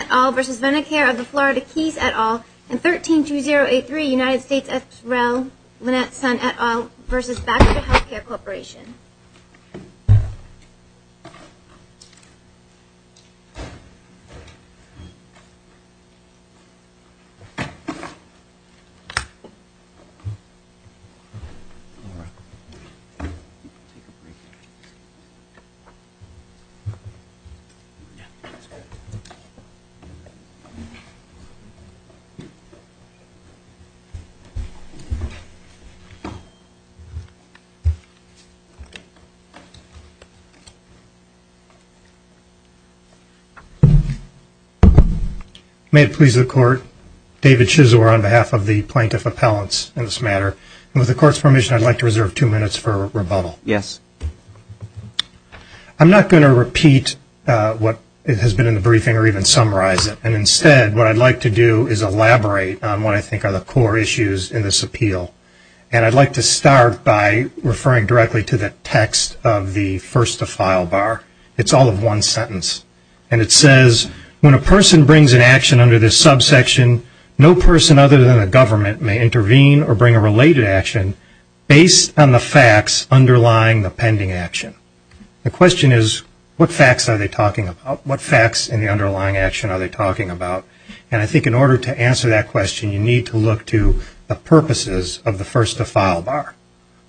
et al. and 13-2083 United States X-Rel Lynette Sun et al. v. Back to the Healthcare Corporation. May it please the Court, David Chisor on behalf of the Plaintiff Appellants in this matter. With the Court's permission, I'd like to reserve two minutes for rebuttal. I'm not going to repeat what has been in the briefing or even summarize it. And instead, what I'd like to do is elaborate on what I think are the core issues in this appeal. And I'd like to start by referring directly to the text of the first-to-file bar. It's all of one sentence. And it says, when a person brings an action under this subsection, no person other than the government may intervene or bring a related action based on the facts underlying the pending action. The question is, what facts are they talking about? What facts in the underlying action are they talking about? And I think in order to answer that question, you need to look to the purposes of the first-to-file bar.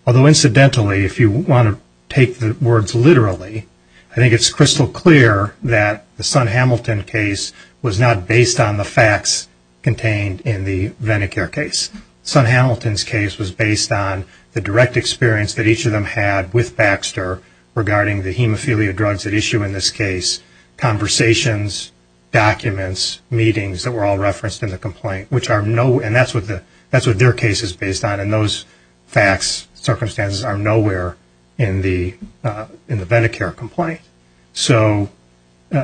Although incidentally, if you want to take the words literally, I think it's crystal clear that the Sun-Hamilton case was not based on the facts contained in the Ven-A-Care case. Sun-Hamilton's case was based on the direct experience that each of them had with Baxter regarding the hemophilia drugs at issue in this case, conversations, documents, meetings that were all referenced in the complaint. And that's what their case is based on. And those facts, circumstances, are nowhere in the Ven-A-Care complaint. So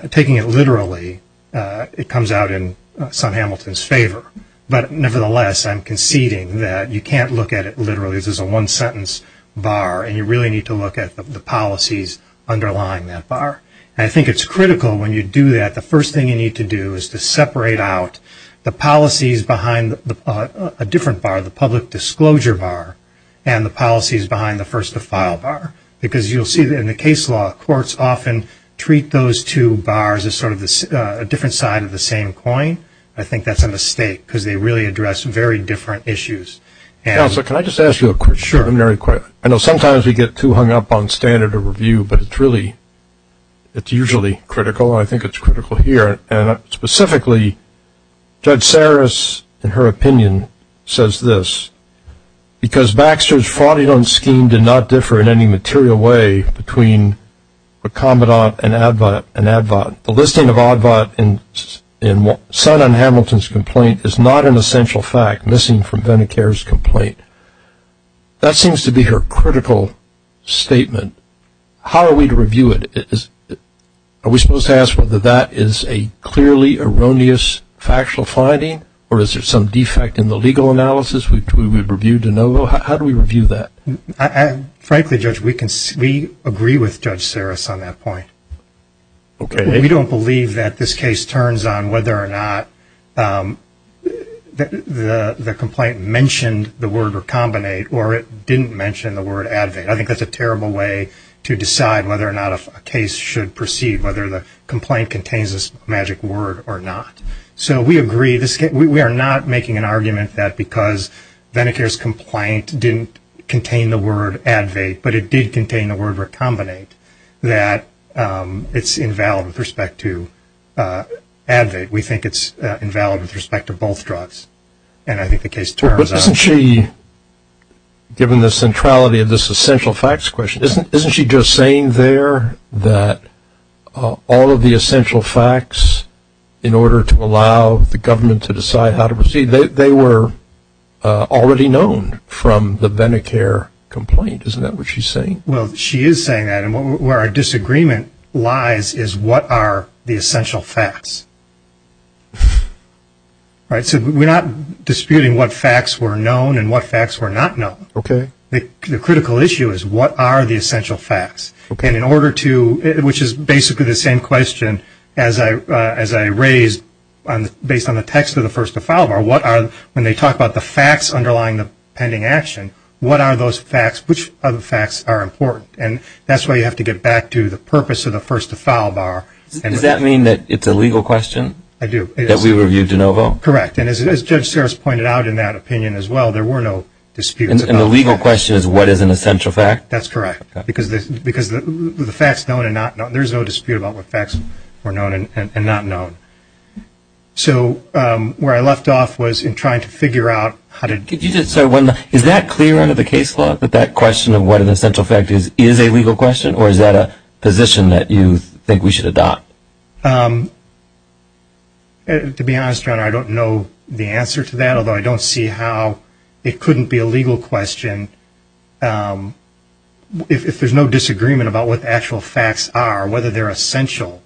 taking it literally, it comes out in Sun-Hamilton's favor. But nevertheless, I'm conceding that you can't look at it literally. This is a one-sentence bar, and you really need to look at the policies underlying that bar. And I think it's critical when you do that, the first thing you need to do is to separate out the policies behind a different bar, the public disclosure bar, and the policies behind the first-to-file bar. Because you'll see that in the case law, courts often treat those two bars as sort of a different side of the same coin. I think that's a mistake because they really address very different issues. Counselor, can I just ask you a question? Sure. I know sometimes we get too hung up on standard of review, but it's usually critical, and I think it's critical here. And specifically, Judge Saris, in her opinion, says this, because Baxter's fraudulent scheme did not differ in any material way between recombinant and advat. The listing of advat in Sun and Hamilton's complaint is not an essential fact, missing from Vennecare's complaint. That seems to be her critical statement. How are we to review it? Are we supposed to ask whether that is a clearly erroneous factual finding, or is there some defect in the legal analysis which we would review de novo? How do we review that? Frankly, Judge, we agree with Judge Saris on that point. We don't believe that this case turns on whether or not the complaint mentioned the word recombinant or it didn't mention the word advat. I think that's a terrible way to decide whether or not a case should proceed, whether the complaint contains this magic word or not. So we agree. We are not making an argument that because Vennecare's complaint didn't contain the word advat, but it did contain the word recombinant, that it's invalid with respect to advat. We think it's invalid with respect to both drugs. And I think the case turns on. But isn't she, given the centrality of this essential facts question, isn't she just saying there that all of the essential facts, in order to allow the government to decide how to proceed, they were already known from the Vennecare complaint. Isn't that what she's saying? Well, she is saying that. And where our disagreement lies is what are the essential facts. So we're not disputing what facts were known and what facts were not known. Okay. The critical issue is what are the essential facts. And in order to, which is basically the same question as I raised, based on the text of the first to file bar, what are, when they talk about the facts underlying the pending action, what are those facts, which other facts are important. And that's why you have to get back to the purpose of the first to file bar. Does that mean that it's a legal question? I do. That we reviewed de novo? Correct. And as Judge Sears pointed out in that opinion as well, there were no disputes. And the legal question is what is an essential fact? That's correct. Because the facts known and not known, there's no dispute about what facts were known and not known. So where I left off was in trying to figure out how to. Is that clear under the case law, that that question of what an essential fact is, is a legal question, or is that a position that you think we should adopt? To be honest, Your Honor, I don't know the answer to that, although I don't see how it couldn't be a legal question. If there's no disagreement about what the actual facts are, whether they're essential,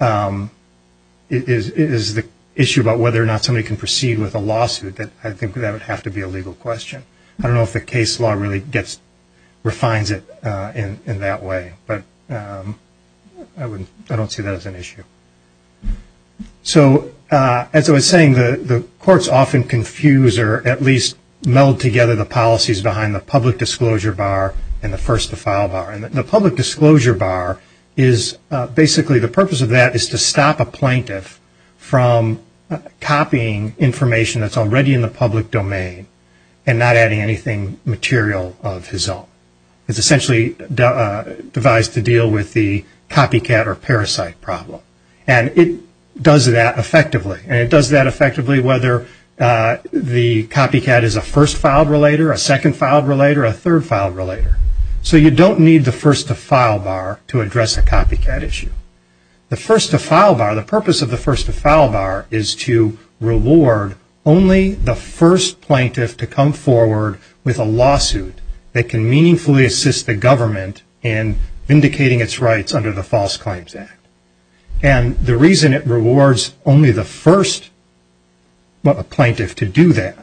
is the issue about whether or not somebody can proceed with a lawsuit, I think that would have to be a legal question. I don't know if the case law really gets, refines it in that way. But I don't see that as an issue. So as I was saying, the courts often confuse or at least meld together the policies behind the public disclosure bar and the first to file bar. And the public disclosure bar is basically, the purpose of that is to stop a plaintiff from copying information that's already in the public domain and not adding anything material of his own. It's essentially devised to deal with the copycat or parasite problem. And it does that effectively. And it does that effectively whether the copycat is a first filed relator, a second filed relator, a third filed relator. So you don't need the first to file bar to address a copycat issue. The first to file bar, the purpose of the first to file bar, is to reward only the first plaintiff to come forward with a lawsuit that can meaningfully assist the government in vindicating its rights under the False Claims Act. And the reason it rewards only the first plaintiff to do that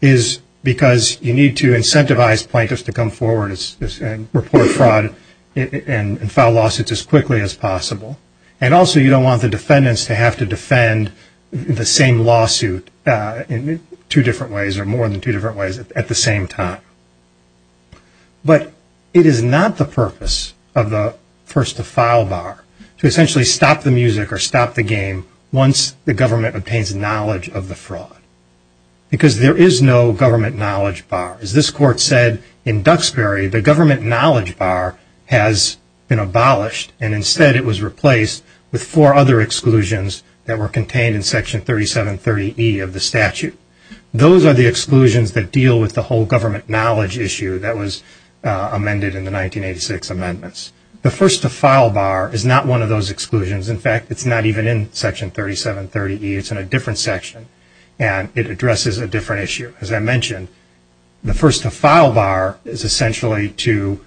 is because you need to incentivize plaintiffs to come forward and report fraud and file lawsuits as quickly as possible. And also you don't want the defendants to have to defend the same lawsuit in two different ways or more than two different ways at the same time. But it is not the purpose of the first to file bar to essentially stop the music or stop the game once the government obtains knowledge of the fraud. Because there is no government knowledge bar. As this court said in Duxbury, the government knowledge bar has been abolished, and instead it was replaced with four other exclusions that were contained in Section 3730E of the statute. Those are the exclusions that deal with the whole government knowledge issue that was amended in the 1986 amendments. The first to file bar is not one of those exclusions. In fact, it's not even in Section 3730E. It's in a different section, and it addresses a different issue. As I mentioned, the first to file bar is essentially to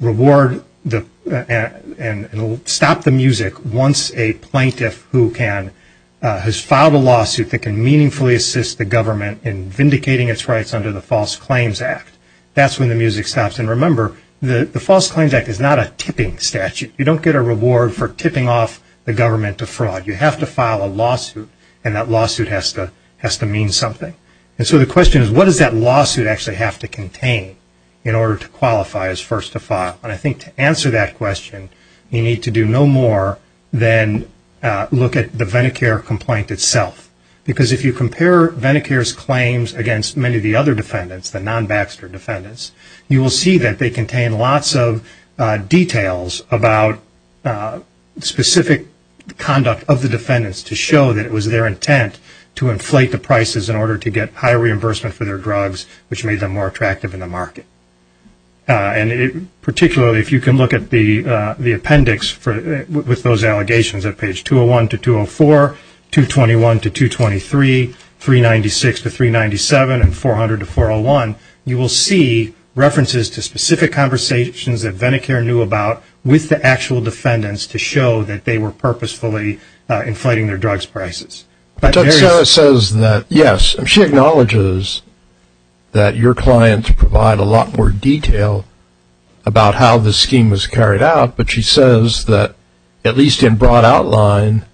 reward and stop the music once a plaintiff has filed a lawsuit that can meaningfully assist the government in vindicating its rights under the False Claims Act. That's when the music stops. And remember, the False Claims Act is not a tipping statute. You don't get a reward for tipping off the government to fraud. You have to file a lawsuit, and that lawsuit has to mean something. And so the question is, what does that lawsuit actually have to contain in order to qualify as first to file? And I think to answer that question, you need to do no more than look at the Venecare complaint itself. Because if you compare Venecare's claims against many of the other defendants, the non-Baxter defendants, you will see that they contain lots of details about specific conduct of the defendants to show that it was their intent to inflate the prices in order to get high reimbursement for their drugs, which made them more attractive in the market. And particularly if you can look at the appendix with those allegations at page 201 to 204, 221 to 223, 396 to 397, and 400 to 401, you will see references to specific conversations that Venecare knew about with the actual defendants to show that they were purposefully inflating their drugs prices. Sarah says that, yes, she acknowledges that your clients provide a lot more detail about how the scheme was carried out, but she says that at least in broad outline,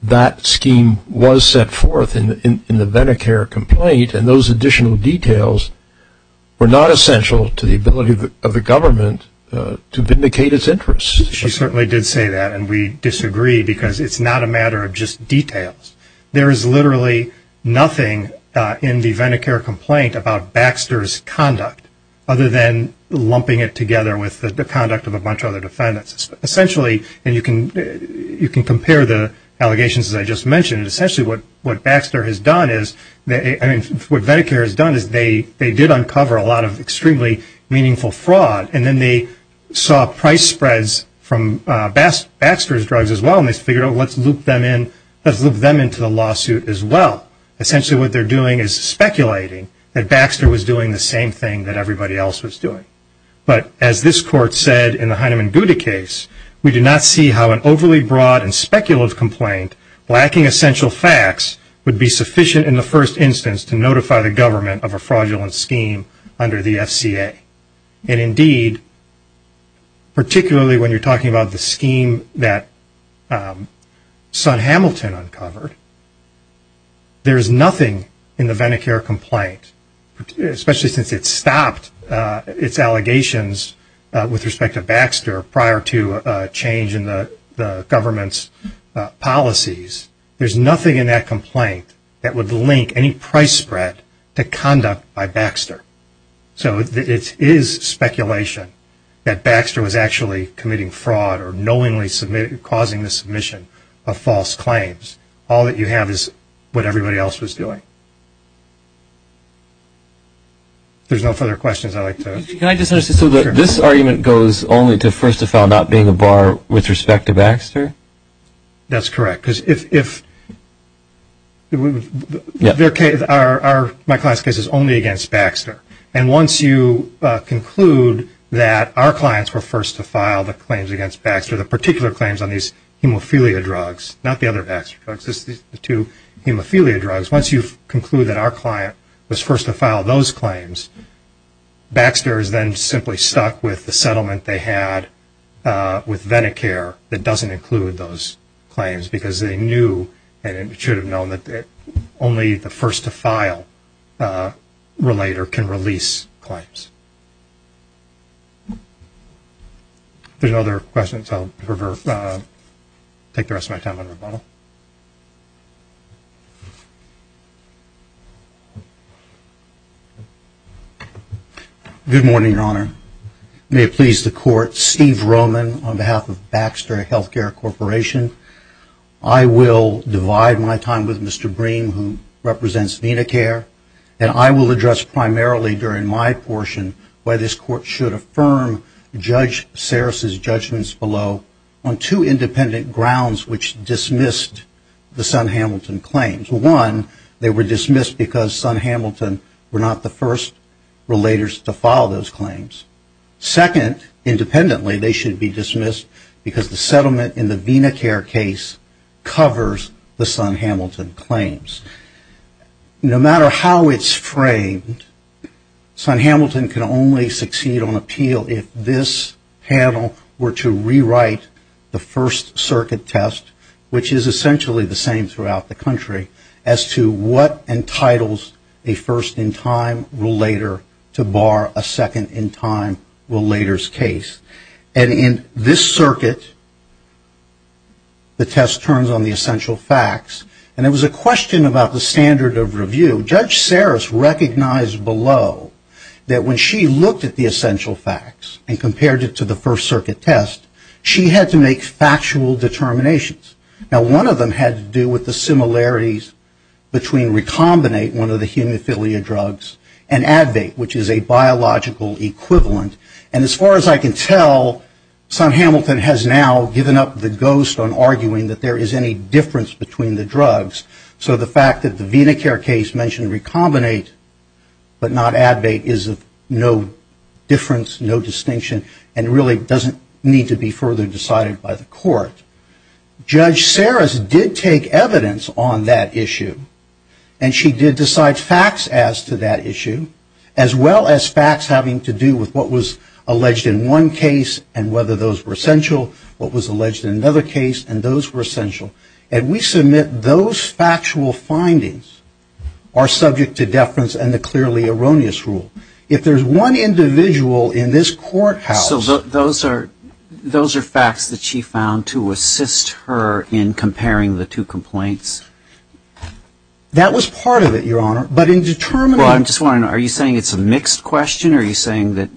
that scheme was set forth in the Venecare complaint, and those additional details were not essential to the ability of the government to vindicate its interests. She certainly did say that, and we disagree, because it's not a matter of just details. There is literally nothing in the Venecare complaint about Baxter's conduct, other than lumping it together with the conduct of a bunch of other defendants. Essentially, and you can compare the allegations that I just mentioned, essentially what Venecare has done is they did uncover a lot of extremely meaningful fraud, and then they saw price spreads from Baxter's drugs as well, and they figured out, let's loop them into the lawsuit as well. Essentially what they're doing is speculating that Baxter was doing the same thing that everybody else was doing. But as this court said in the Heinemann-Guda case, we do not see how an overly broad and speculative complaint lacking essential facts would be sufficient in the first instance to notify the government of a fraudulent scheme under the FCA. And indeed, particularly when you're talking about the scheme that Son Hamilton uncovered, there's nothing in the Venecare complaint, especially since it stopped its allegations with respect to Baxter prior to change in the government's policies, there's nothing in that complaint that would link any price spread to conduct by Baxter. So it is speculation that Baxter was actually committing fraud or knowingly causing the submission of false claims. All that you have is what everybody else was doing. If there's no further questions, I'd like to – Can I just – so this argument goes only to, first of all, not being a bar with respect to Baxter? That's correct. Because if – my client's case is only against Baxter. And once you conclude that our clients were first to file the claims against Baxter, the particular claims on these hemophilia drugs, not the other Baxter drugs, the two hemophilia drugs, once you conclude that our client was first to file those claims, Baxter is then simply stuck with the settlement they had with Venecare that doesn't include those claims because they knew and should have known that only the first-to-file relator can release claims. If there's no other questions, I'll take the rest of my time on rebuttal. Good morning, Your Honor. May it please the Court, Steve Roman on behalf of Baxter Healthcare Corporation. I will divide my time with Mr. Bream, who represents Venecare, and I will address primarily during my portion why this Court should affirm Judge Sarris's judgments below on two independent grounds which dismissed the Son-Hamilton claims. One, they were dismissed because Son-Hamilton were not the first relators to file those claims. Second, independently, they should be dismissed because the settlement in the Venecare case covers the Son-Hamilton claims. No matter how it's framed, Son-Hamilton can only succeed on appeal if this panel were to rewrite the first circuit test, which is essentially the same throughout the country, as to what entitles a first-in-time relator to bar a second-in-time relator's case. And in this circuit, the test turns on the essential facts, and there was a question about the standard of review. Judge Sarris recognized below that when she looked at the essential facts and compared it to the first circuit test, she had to make factual determinations. Now, one of them had to do with the similarities between Recombinate, one of the hemophilia drugs, and Advait, which is a biological equivalent. And as far as I can tell, Son-Hamilton has now given up the ghost on arguing that there is any difference between the drugs. So the fact that the Venecare case mentioned Recombinate but not Advait is of no difference, no distinction, and really doesn't need to be further decided by the court. Judge Sarris did take evidence on that issue, and she did decide facts as to that issue, as well as facts having to do with what was alleged in one case and whether those were essential, what was alleged in another case, and those were essential. And we submit those factual findings are subject to deference and the clearly erroneous rule. If there's one individual in this courthouse. So those are facts that she found to assist her in comparing the two complaints? That was part of it, Your Honor, but in determining. Well, I'm just wondering, are you saying it's a mixed question, or are you saying that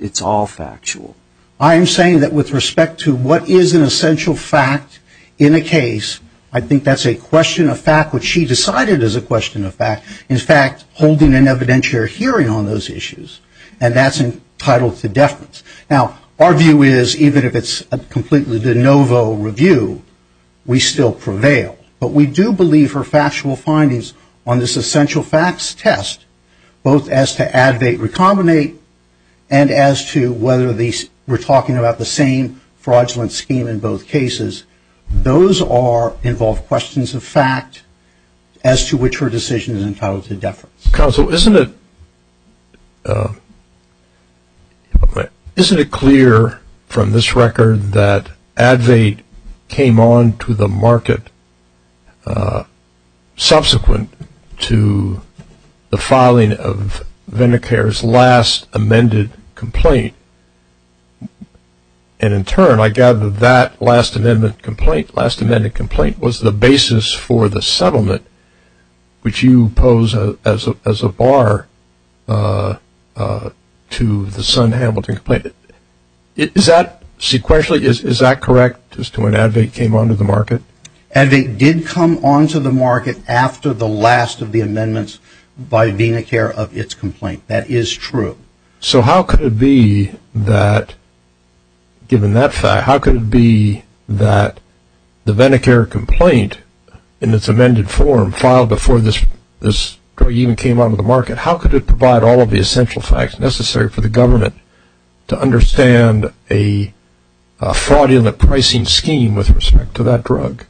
it's all factual? I am saying that with respect to what is an essential fact in a case, I think that's a question of fact, which she decided is a question of fact. In fact, holding an evidentiary hearing on those issues, and that's entitled to deference. Now, our view is, even if it's a completely de novo review, we still prevail. But we do believe her factual findings on this essential facts test, both as to Advait Recombinate and as to whether we're talking about the same fraudulent scheme in both cases, those involve questions of fact as to which her decision is entitled to deference. Counsel, isn't it clear from this record that Advait came on to the market subsequent to the filing of the last amended complaint? And in turn, I gather that last amended complaint was the basis for the settlement, which you pose as a bar to the Sun-Hamilton complaint. Is that sequentially, is that correct, as to when Advait came on to the market? Advait did come on to the market after the last of the amendments by VenaCare of its complaint. That is true. So how could it be that, given that fact, how could it be that the VenaCare complaint in its amended form, filed before this drug even came on to the market, how could it provide all of the essential facts necessary for the government to understand a fraudulent pricing scheme with respect to that drug?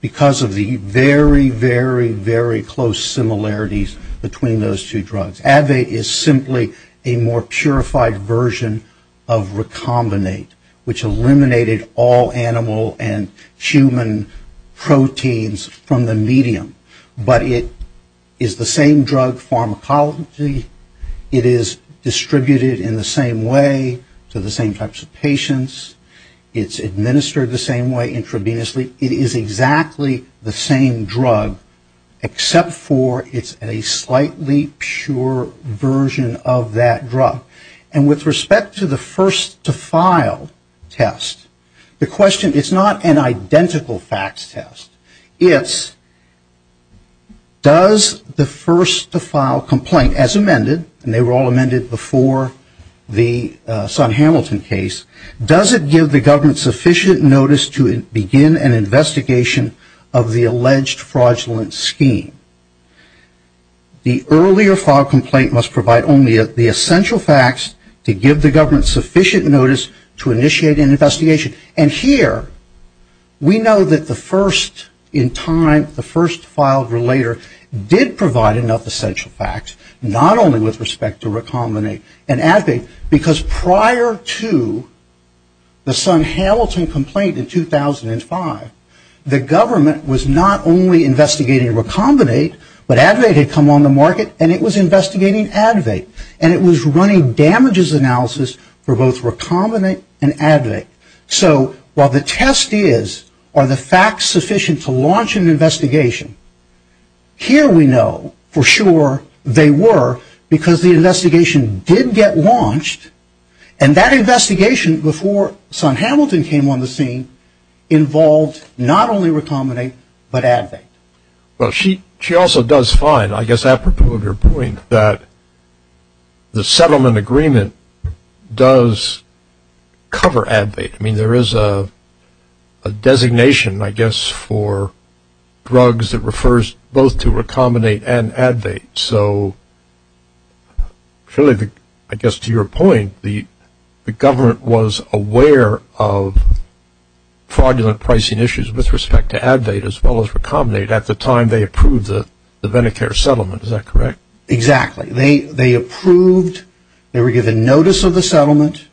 Because of the very, very, very close similarities between those two drugs. Advait is simply a more purified version of Recombinate, which eliminated all animal and human proteins from the medium. But it is the same drug pharmacology. It is distributed in the same way to the same types of patients. It's administered the same way intravenously. It is exactly the same drug, except for it's a slightly pure version of that drug. And with respect to the first-to-file test, the question, it's not an identical facts test. It's does the first-to-file complaint, as amended, and they were all amended before the Sun-Hamilton case, does it give the government sufficient notice to begin an investigation of the alleged fraudulent scheme? The earlier-filed complaint must provide only the essential facts to give the government sufficient notice to initiate an investigation. And here, we know that the first-in-time, the first-filed relator did provide enough essential facts, not only with respect to Recombinate and Advait, because prior to the Sun-Hamilton complaint in 2005, the government was not only investigating Recombinate, but Advait had come on the market, and it was investigating Advait. And it was running damages analysis for both Recombinate and Advait. So while the test is, are the facts sufficient to launch an investigation, here we know for sure they were, because the investigation did get launched, and that investigation before Sun-Hamilton came on the scene involved not only Recombinate, but Advait. Well, she also does fine, I guess apropos of your point, that the settlement agreement does cover Advait. I mean, there is a designation, I guess, for drugs that refers both to Recombinate and Advait. So I guess to your point, the government was aware of fraudulent pricing issues with respect to Advait as well as Recombinate. At the time, they approved the Medicare settlement. Is that correct? Exactly. They approved. They were given notice of the settlement.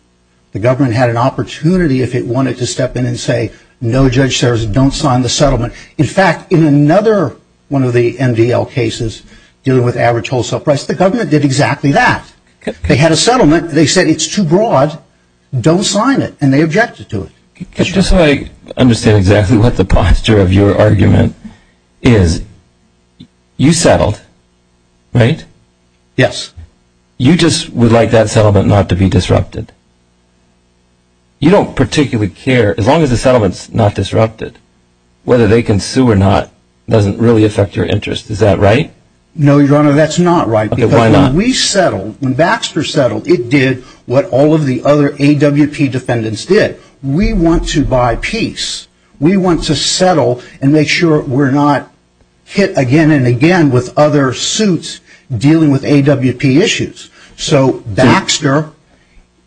The government had an opportunity if it wanted to step in and say, no, Judge Sears, don't sign the settlement. In fact, in another one of the MDL cases dealing with average wholesale price, the government did exactly that. They had a settlement. They said it's too broad, don't sign it, and they objected to it. Just so I understand exactly what the posture of your argument is, you settled, right? Yes. You just would like that settlement not to be disrupted. You don't particularly care. As long as the settlement is not disrupted, whether they can sue or not doesn't really affect your interest. Is that right? No, Your Honor, that's not right. Okay, why not? Because when we settled, when Baxter settled, it did what all of the other AWP defendants did. We want to buy peace. We want to settle and make sure we're not hit again and again with other suits dealing with AWP issues. So Baxter,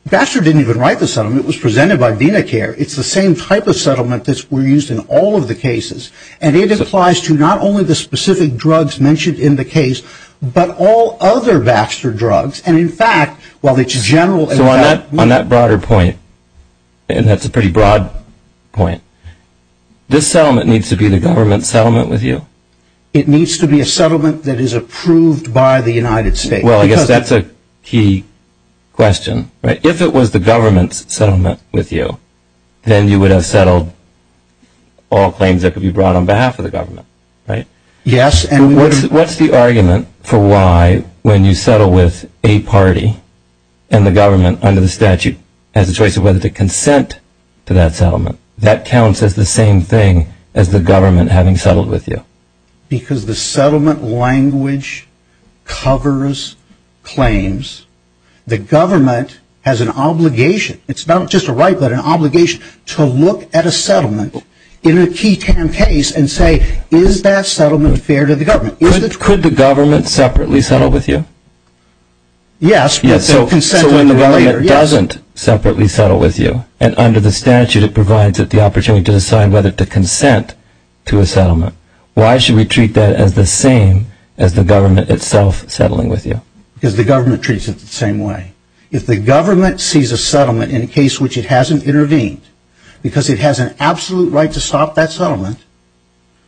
Baxter didn't even write the settlement. It was presented by VenaCare. It's the same type of settlement that were used in all of the cases. And it applies to not only the specific drugs mentioned in the case, but all other Baxter drugs. And, in fact, while it's general. So on that broader point, and that's a pretty broad point, this settlement needs to be the government's settlement with you? It needs to be a settlement that is approved by the United States. Well, I guess that's a key question, right? If it was the government's settlement with you, then you would have settled all claims that could be brought on behalf of the government, right? Yes. What's the argument for why, when you settle with a party, and the government under the statute has a choice of whether to consent to that settlement, that counts as the same thing as the government having settled with you? Because the settlement language covers claims. The government has an obligation, it's not just a right, but an obligation, to look at a settlement in a key case and say, is that settlement fair to the government? Could the government separately settle with you? Yes. So when the government doesn't separately settle with you, and under the statute it provides it the opportunity to decide whether to consent to a settlement, why should we treat that as the same as the government itself settling with you? Because the government treats it the same way. If the government sees a settlement in a case in which it hasn't intervened, because it has an absolute right to stop that settlement,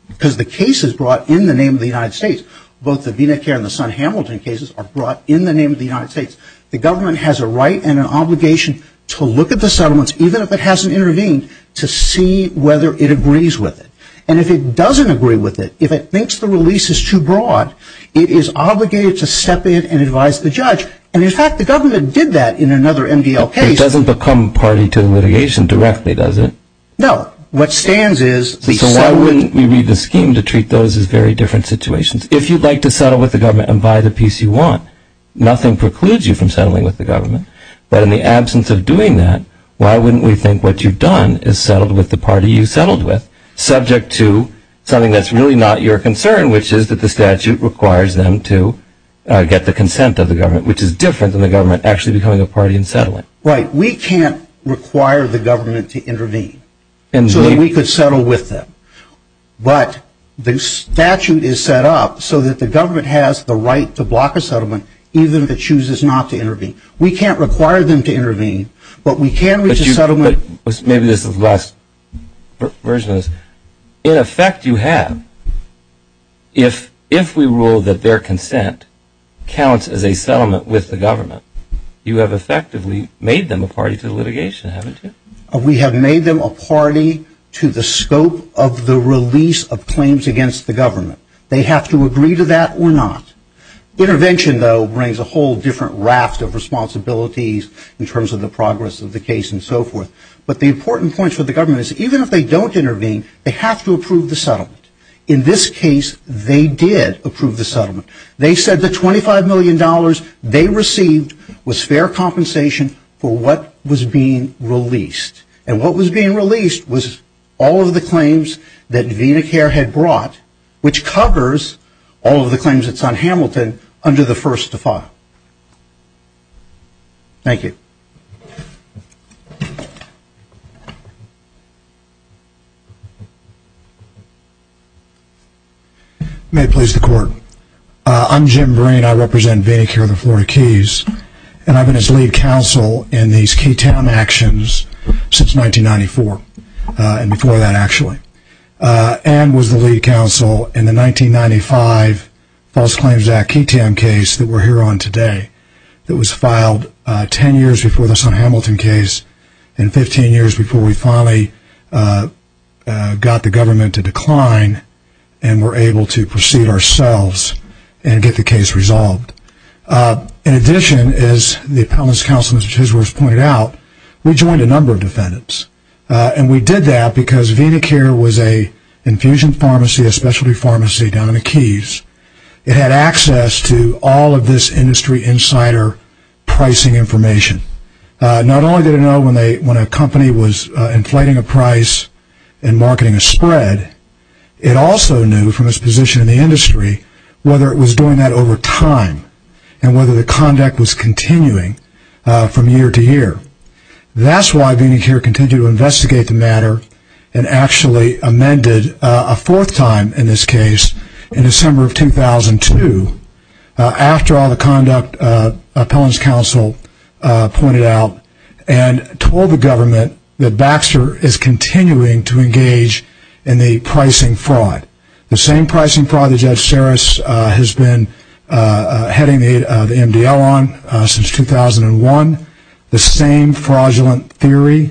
because the case is brought in the name of the United States, both the Vinokur and the Son Hamilton cases are brought in the name of the United States, the government has a right and an obligation to look at the settlements, even if it hasn't intervened, to see whether it agrees with it. And if it doesn't agree with it, if it thinks the release is too broad, it is obligated to step in and advise the judge. And, in fact, the government did that in another NBL case. It doesn't become party to the litigation directly, does it? No. What stands is the settlement. So why wouldn't we read the scheme to treat those as very different situations? If you'd like to settle with the government and buy the peace you want, nothing precludes you from settling with the government. But in the absence of doing that, why wouldn't we think what you've done is settled with the party you settled with, subject to something that's really not your concern, which is that the statute requires them to get the consent of the government, which is different than the government actually becoming a party and settling. Right. We can't require the government to intervene so that we could settle with them. But the statute is set up so that the government has the right to block a settlement, even if it chooses not to intervene. We can't require them to intervene, but we can reach a settlement. Maybe this is the last version of this. In effect, you have. If we rule that their consent counts as a settlement with the government, you have effectively made them a party to the litigation, haven't you? We have made them a party to the scope of the release of claims against the government. They have to agree to that or not. Intervention, though, brings a whole different raft of responsibilities in terms of the progress of the case and so forth. But the important point for the government is even if they don't intervene, they have to approve the settlement. In this case, they did approve the settlement. They said the $25 million they received was fair compensation for what was being released. And what was being released was all of the claims that VenaCare had brought, which covers all of the claims that's on Hamilton under the first default. Thank you. May it please the Court. I'm Jim Breen. I represent VenaCare of the Florida Keys, and I've been its lead counsel in these Keytown actions since 1994, and before that, actually. And was the lead counsel in the 1995 False Claims Act Keytown case that we're here on today that was filed 10 years before the Hamilton case, and 15 years before we finally got the government to decline and were able to proceed ourselves and get the case resolved. In addition, as the appellant's counsel, Mr. Chisworth, pointed out, we joined a number of defendants. And we did that because VenaCare was an infusion pharmacy, a specialty pharmacy down in the Keys. It had access to all of this industry insider pricing information. Not only did it know when a company was inflating a price and marketing a spread, it also knew from its position in the industry whether it was doing that over time and whether the conduct was continuing from year to year. That's why VenaCare continued to investigate the matter and actually amended a fourth time in this case in December of 2002. After all the conduct, the appellant's counsel pointed out and told the government that Baxter is continuing to engage in the pricing fraud. The same pricing fraud that Judge Sarris has been heading the MDL on since 2001. The same fraudulent theory.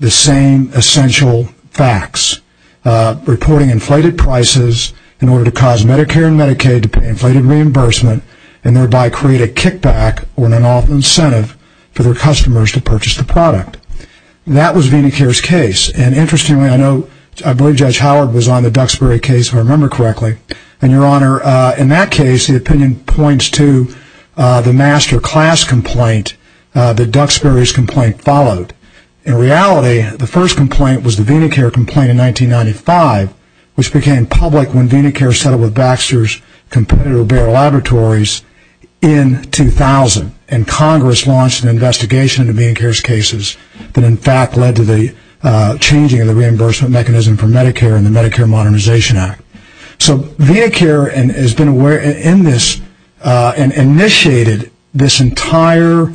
The same essential facts. Reporting inflated prices in order to cause Medicare and Medicaid to pay inflated reimbursement and thereby create a kickback or an off incentive for their customers to purchase the product. That was VenaCare's case. And interestingly, I believe Judge Howard was on the Duxbury case, if I remember correctly. And, Your Honor, in that case, the opinion points to the master class complaint that Duxbury's complaint followed. In reality, the first complaint was the VenaCare complaint in 1995, which became public when VenaCare settled with Baxter's competitor, Bayer Laboratories, in 2000. And Congress launched an investigation into VenaCare's cases that in fact led to the changing of the reimbursement mechanism for Medicare in the Medicare Modernization Act. So, VenaCare initiated this entire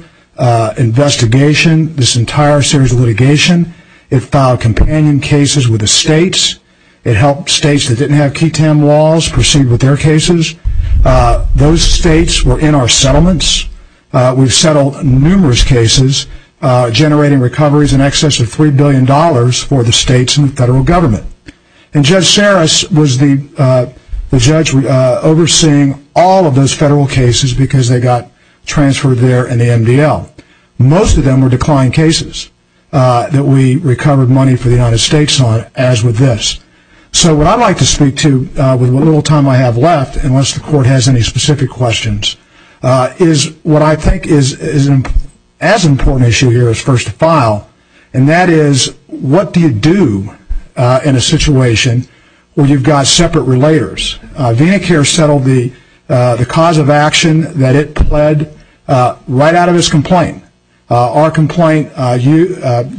investigation, this entire series of litigation. It filed companion cases with the states. It helped states that didn't have ketamine laws proceed with their cases. Those states were in our settlements. We've settled numerous cases generating recoveries in excess of $3 billion for the states and the federal government. And Judge Sarris was the judge overseeing all of those federal cases because they got transferred there in the MDL. Most of them were declined cases that we recovered money for the United States on, as with this. So, what I'd like to speak to with the little time I have left, unless the court has any specific questions, is what I think is as important an issue here as first to file, and that is what do you do in a situation where you've got separate relators? VenaCare settled the cause of action that it pled right out of its complaint. Our complaint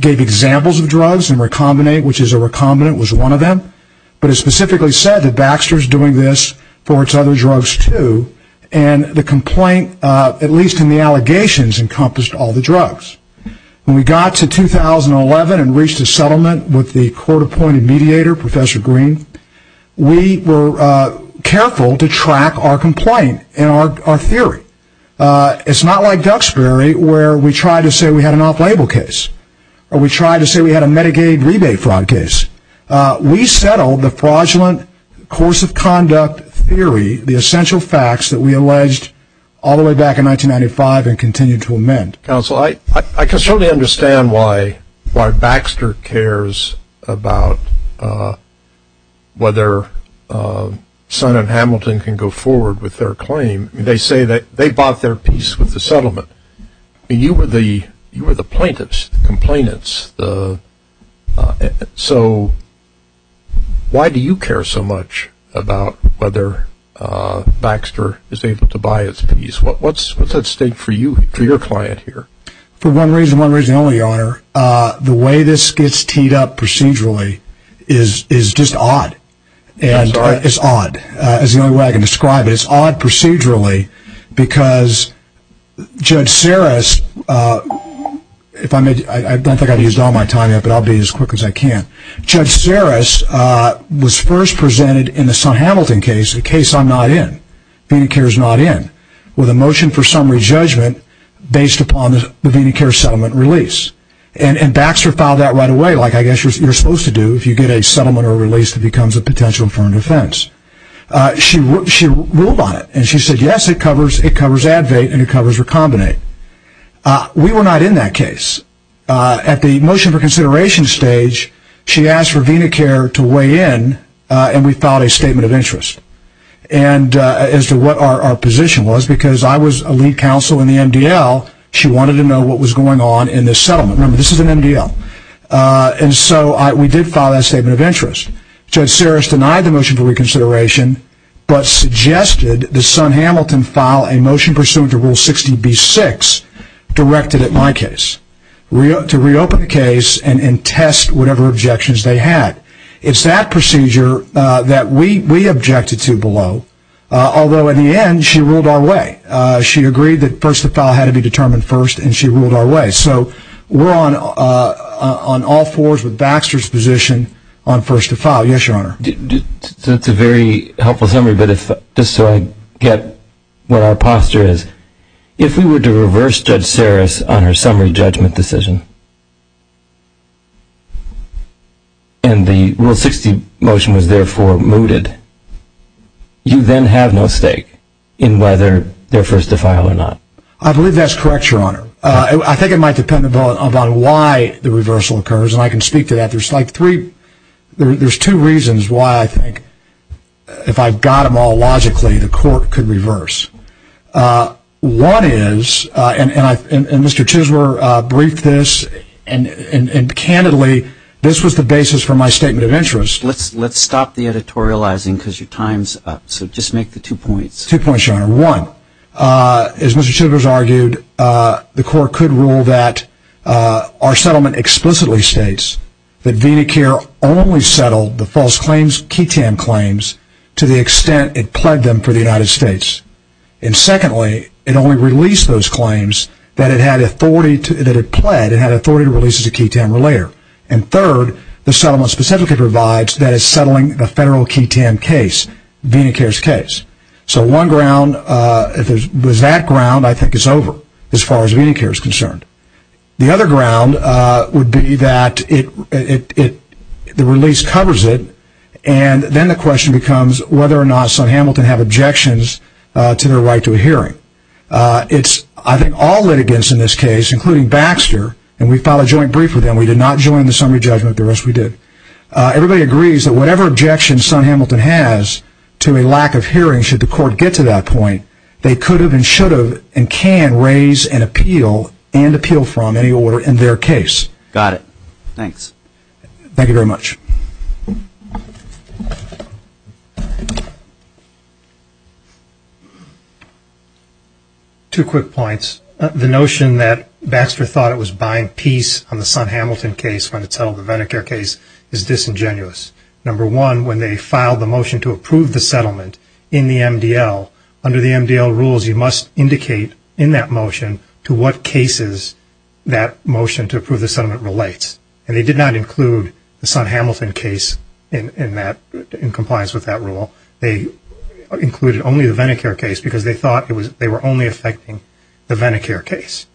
gave examples of drugs and Recombinate, which is a recombinant, was one of them. But it specifically said that Baxter is doing this for its other drugs, too. And the complaint, at least in the allegations, encompassed all the drugs. When we got to 2011 and reached a settlement with the court-appointed mediator, Professor Green, we were careful to track our complaint and our theory. It's not like Duxbury where we tried to say we had an off-label case or we tried to say we had a Medicaid rebate fraud case. We settled the fraudulent course of conduct theory, the essential facts that we alleged all the way back in 1995 and continue to amend. Counsel, I can certainly understand why Baxter cares about whether Sun and Hamilton can go forward with their claim. They say that they bought their piece with the settlement. You were the plaintiffs, the complainants. So why do you care so much about whether Baxter is able to buy its piece? What's at stake for you, for your client here? For one reason and one reason only, Your Honor. The way this gets teed up procedurally is just odd. I'm sorry? It's odd. That's the only way I can describe it. It's odd procedurally because Judge Sarris, I don't think I've used all my time yet, but I'll be as quick as I can. Judge Sarris was first presented in the Sun-Hamilton case, a case I'm not in, VenaCare is not in, with a motion for summary judgment based upon the VenaCare settlement release. And Baxter filed that right away, like I guess you're supposed to do if you get a settlement or a release that becomes a potential infirmary defense. She ruled on it, and she said, yes, it covers Advait and it covers Recombinate. We were not in that case. At the motion for consideration stage, she asked for VenaCare to weigh in, and we filed a statement of interest. And as to what our position was, because I was a lead counsel in the MDL, she wanted to know what was going on in this settlement. Remember, this is an MDL. And so we did file that statement of interest. Judge Sarris denied the motion for reconsideration, but suggested the Sun-Hamilton file a motion pursuant to Rule 60B-6, directed at my case, to reopen the case and test whatever objections they had. It's that procedure that we objected to below, although in the end she ruled our way. She agreed that first to file had to be determined first, and she ruled our way. So we're on all fours with Baxter's position on first to file. Yes, Your Honor. That's a very helpful summary, but just so I get what our posture is, if we were to reverse Judge Sarris on her summary judgment decision, and the Rule 60 motion was therefore mooted, you then have no stake in whether they're first to file or not. I believe that's correct, Your Honor. I think it might depend upon why the reversal occurs, and I can speak to that. There's two reasons why I think, if I've got them all logically, the court could reverse. One is, and Mr. Chisler briefed this, and candidly, this was the basis for my statement of interest. Let's stop the editorializing because your time's up. So just make the two points. Two points, Your Honor. One, as Mr. Chisler has argued, the court could rule that our settlement explicitly states that VenaCare only settled the false claims, KETAM claims, to the extent it pled them for the United States. And secondly, it only released those claims that it had authority to, that it pled, it had authority to release as a KETAM or later. And third, the settlement specifically provides that it's settling the federal KETAM case, VenaCare's case. So one ground, if it was that ground, I think it's over, as far as VenaCare is concerned. The other ground would be that it, the release covers it, and then the question becomes whether or not Son Hamilton have objections to their right to a hearing. It's, I think, all litigants in this case, including Baxter, and we filed a joint brief with them. We did not join the summary judgment. The rest we did. Everybody agrees that whatever objections Son Hamilton has to a lack of hearing, should the court get to that point, they could have and should have and can raise and appeal and appeal from any order in their case. Got it. Thanks. Thank you very much. Two quick points. The notion that Baxter thought it was buying peace on the Son Hamilton case when it settled the VenaCare case is disingenuous. Number one, when they filed the motion to approve the settlement in the MDL, under the MDL rules you must indicate in that motion to what cases that motion to approve the settlement relates. And they did not include the Son Hamilton case in compliance with that rule. They included only the VenaCare case because they thought they were only affecting the VenaCare case.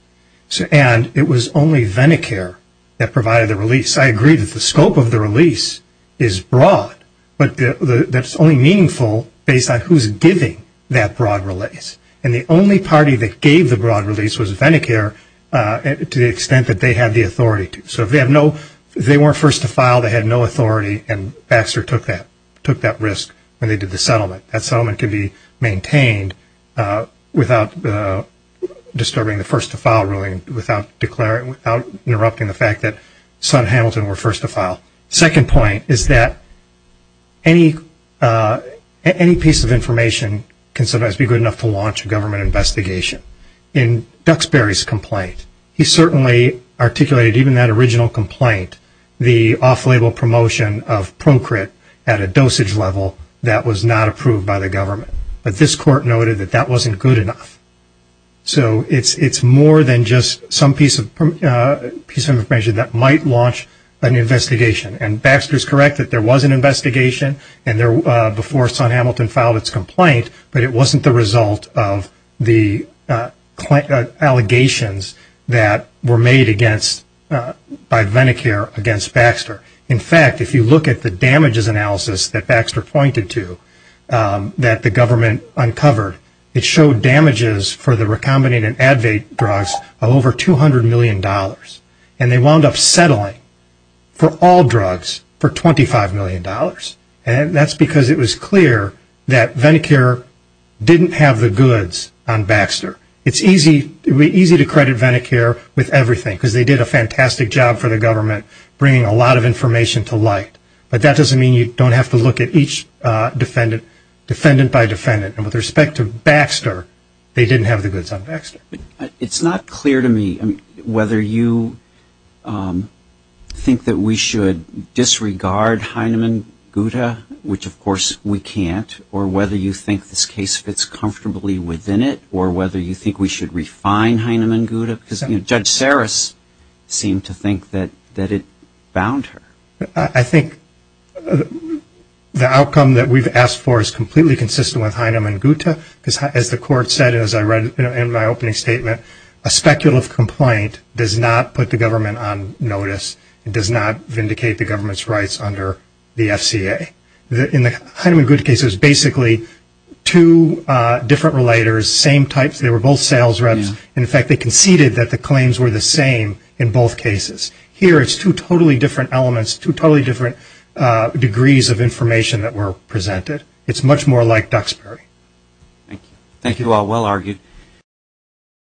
And it was only VenaCare that provided the release. I agree that the scope of the release is broad, but that's only meaningful based on who's giving that broad release. And the only party that gave the broad release was VenaCare to the extent that they had the authority to. So if they weren't first to file, they had no authority, and Baxter took that risk when they did the settlement. That settlement could be maintained without disturbing the first to file ruling, without interrupting the fact that Son Hamilton were first to file. The second point is that any piece of information can sometimes be good enough to launch a government investigation. In Duxbury's complaint, he certainly articulated, even in that original complaint, the off-label promotion of Procrit at a dosage level that was not approved by the government. But this court noted that that wasn't good enough. So it's more than just some piece of information that might launch an investigation. And Baxter's correct that there was an investigation before Son Hamilton filed its complaint, but it wasn't the result of the allegations that were made by VenaCare against Baxter. In fact, if you look at the damages analysis that Baxter pointed to that the government uncovered, it showed damages for the recombinant and Advait drugs of over $200 million. And they wound up settling for all drugs for $25 million. And that's because it was clear that VenaCare didn't have the goods on Baxter. It's easy to credit VenaCare with everything because they did a fantastic job for the government, bringing a lot of information to light. But that doesn't mean you don't have to look at each defendant, defendant by defendant. And with respect to Baxter, they didn't have the goods on Baxter. It's not clear to me whether you think that we should disregard Heinemann-Guta, which of course we can't, or whether you think this case fits comfortably within it, or whether you think we should refine Heinemann-Guta. Because Judge Saris seemed to think that it bound her. I think the outcome that we've asked for is completely consistent with Heinemann-Guta. As the court said, as I read in my opening statement, a speculative complaint does not put the government on notice. It does not vindicate the government's rights under the FCA. In the Heinemann-Guta case, it was basically two different relators, same types. They were both sales reps. In fact, they conceded that the claims were the same in both cases. Here it's two totally different elements, two totally different degrees of information that were presented. It's much more like Duxbury. Thank you all. Well argued.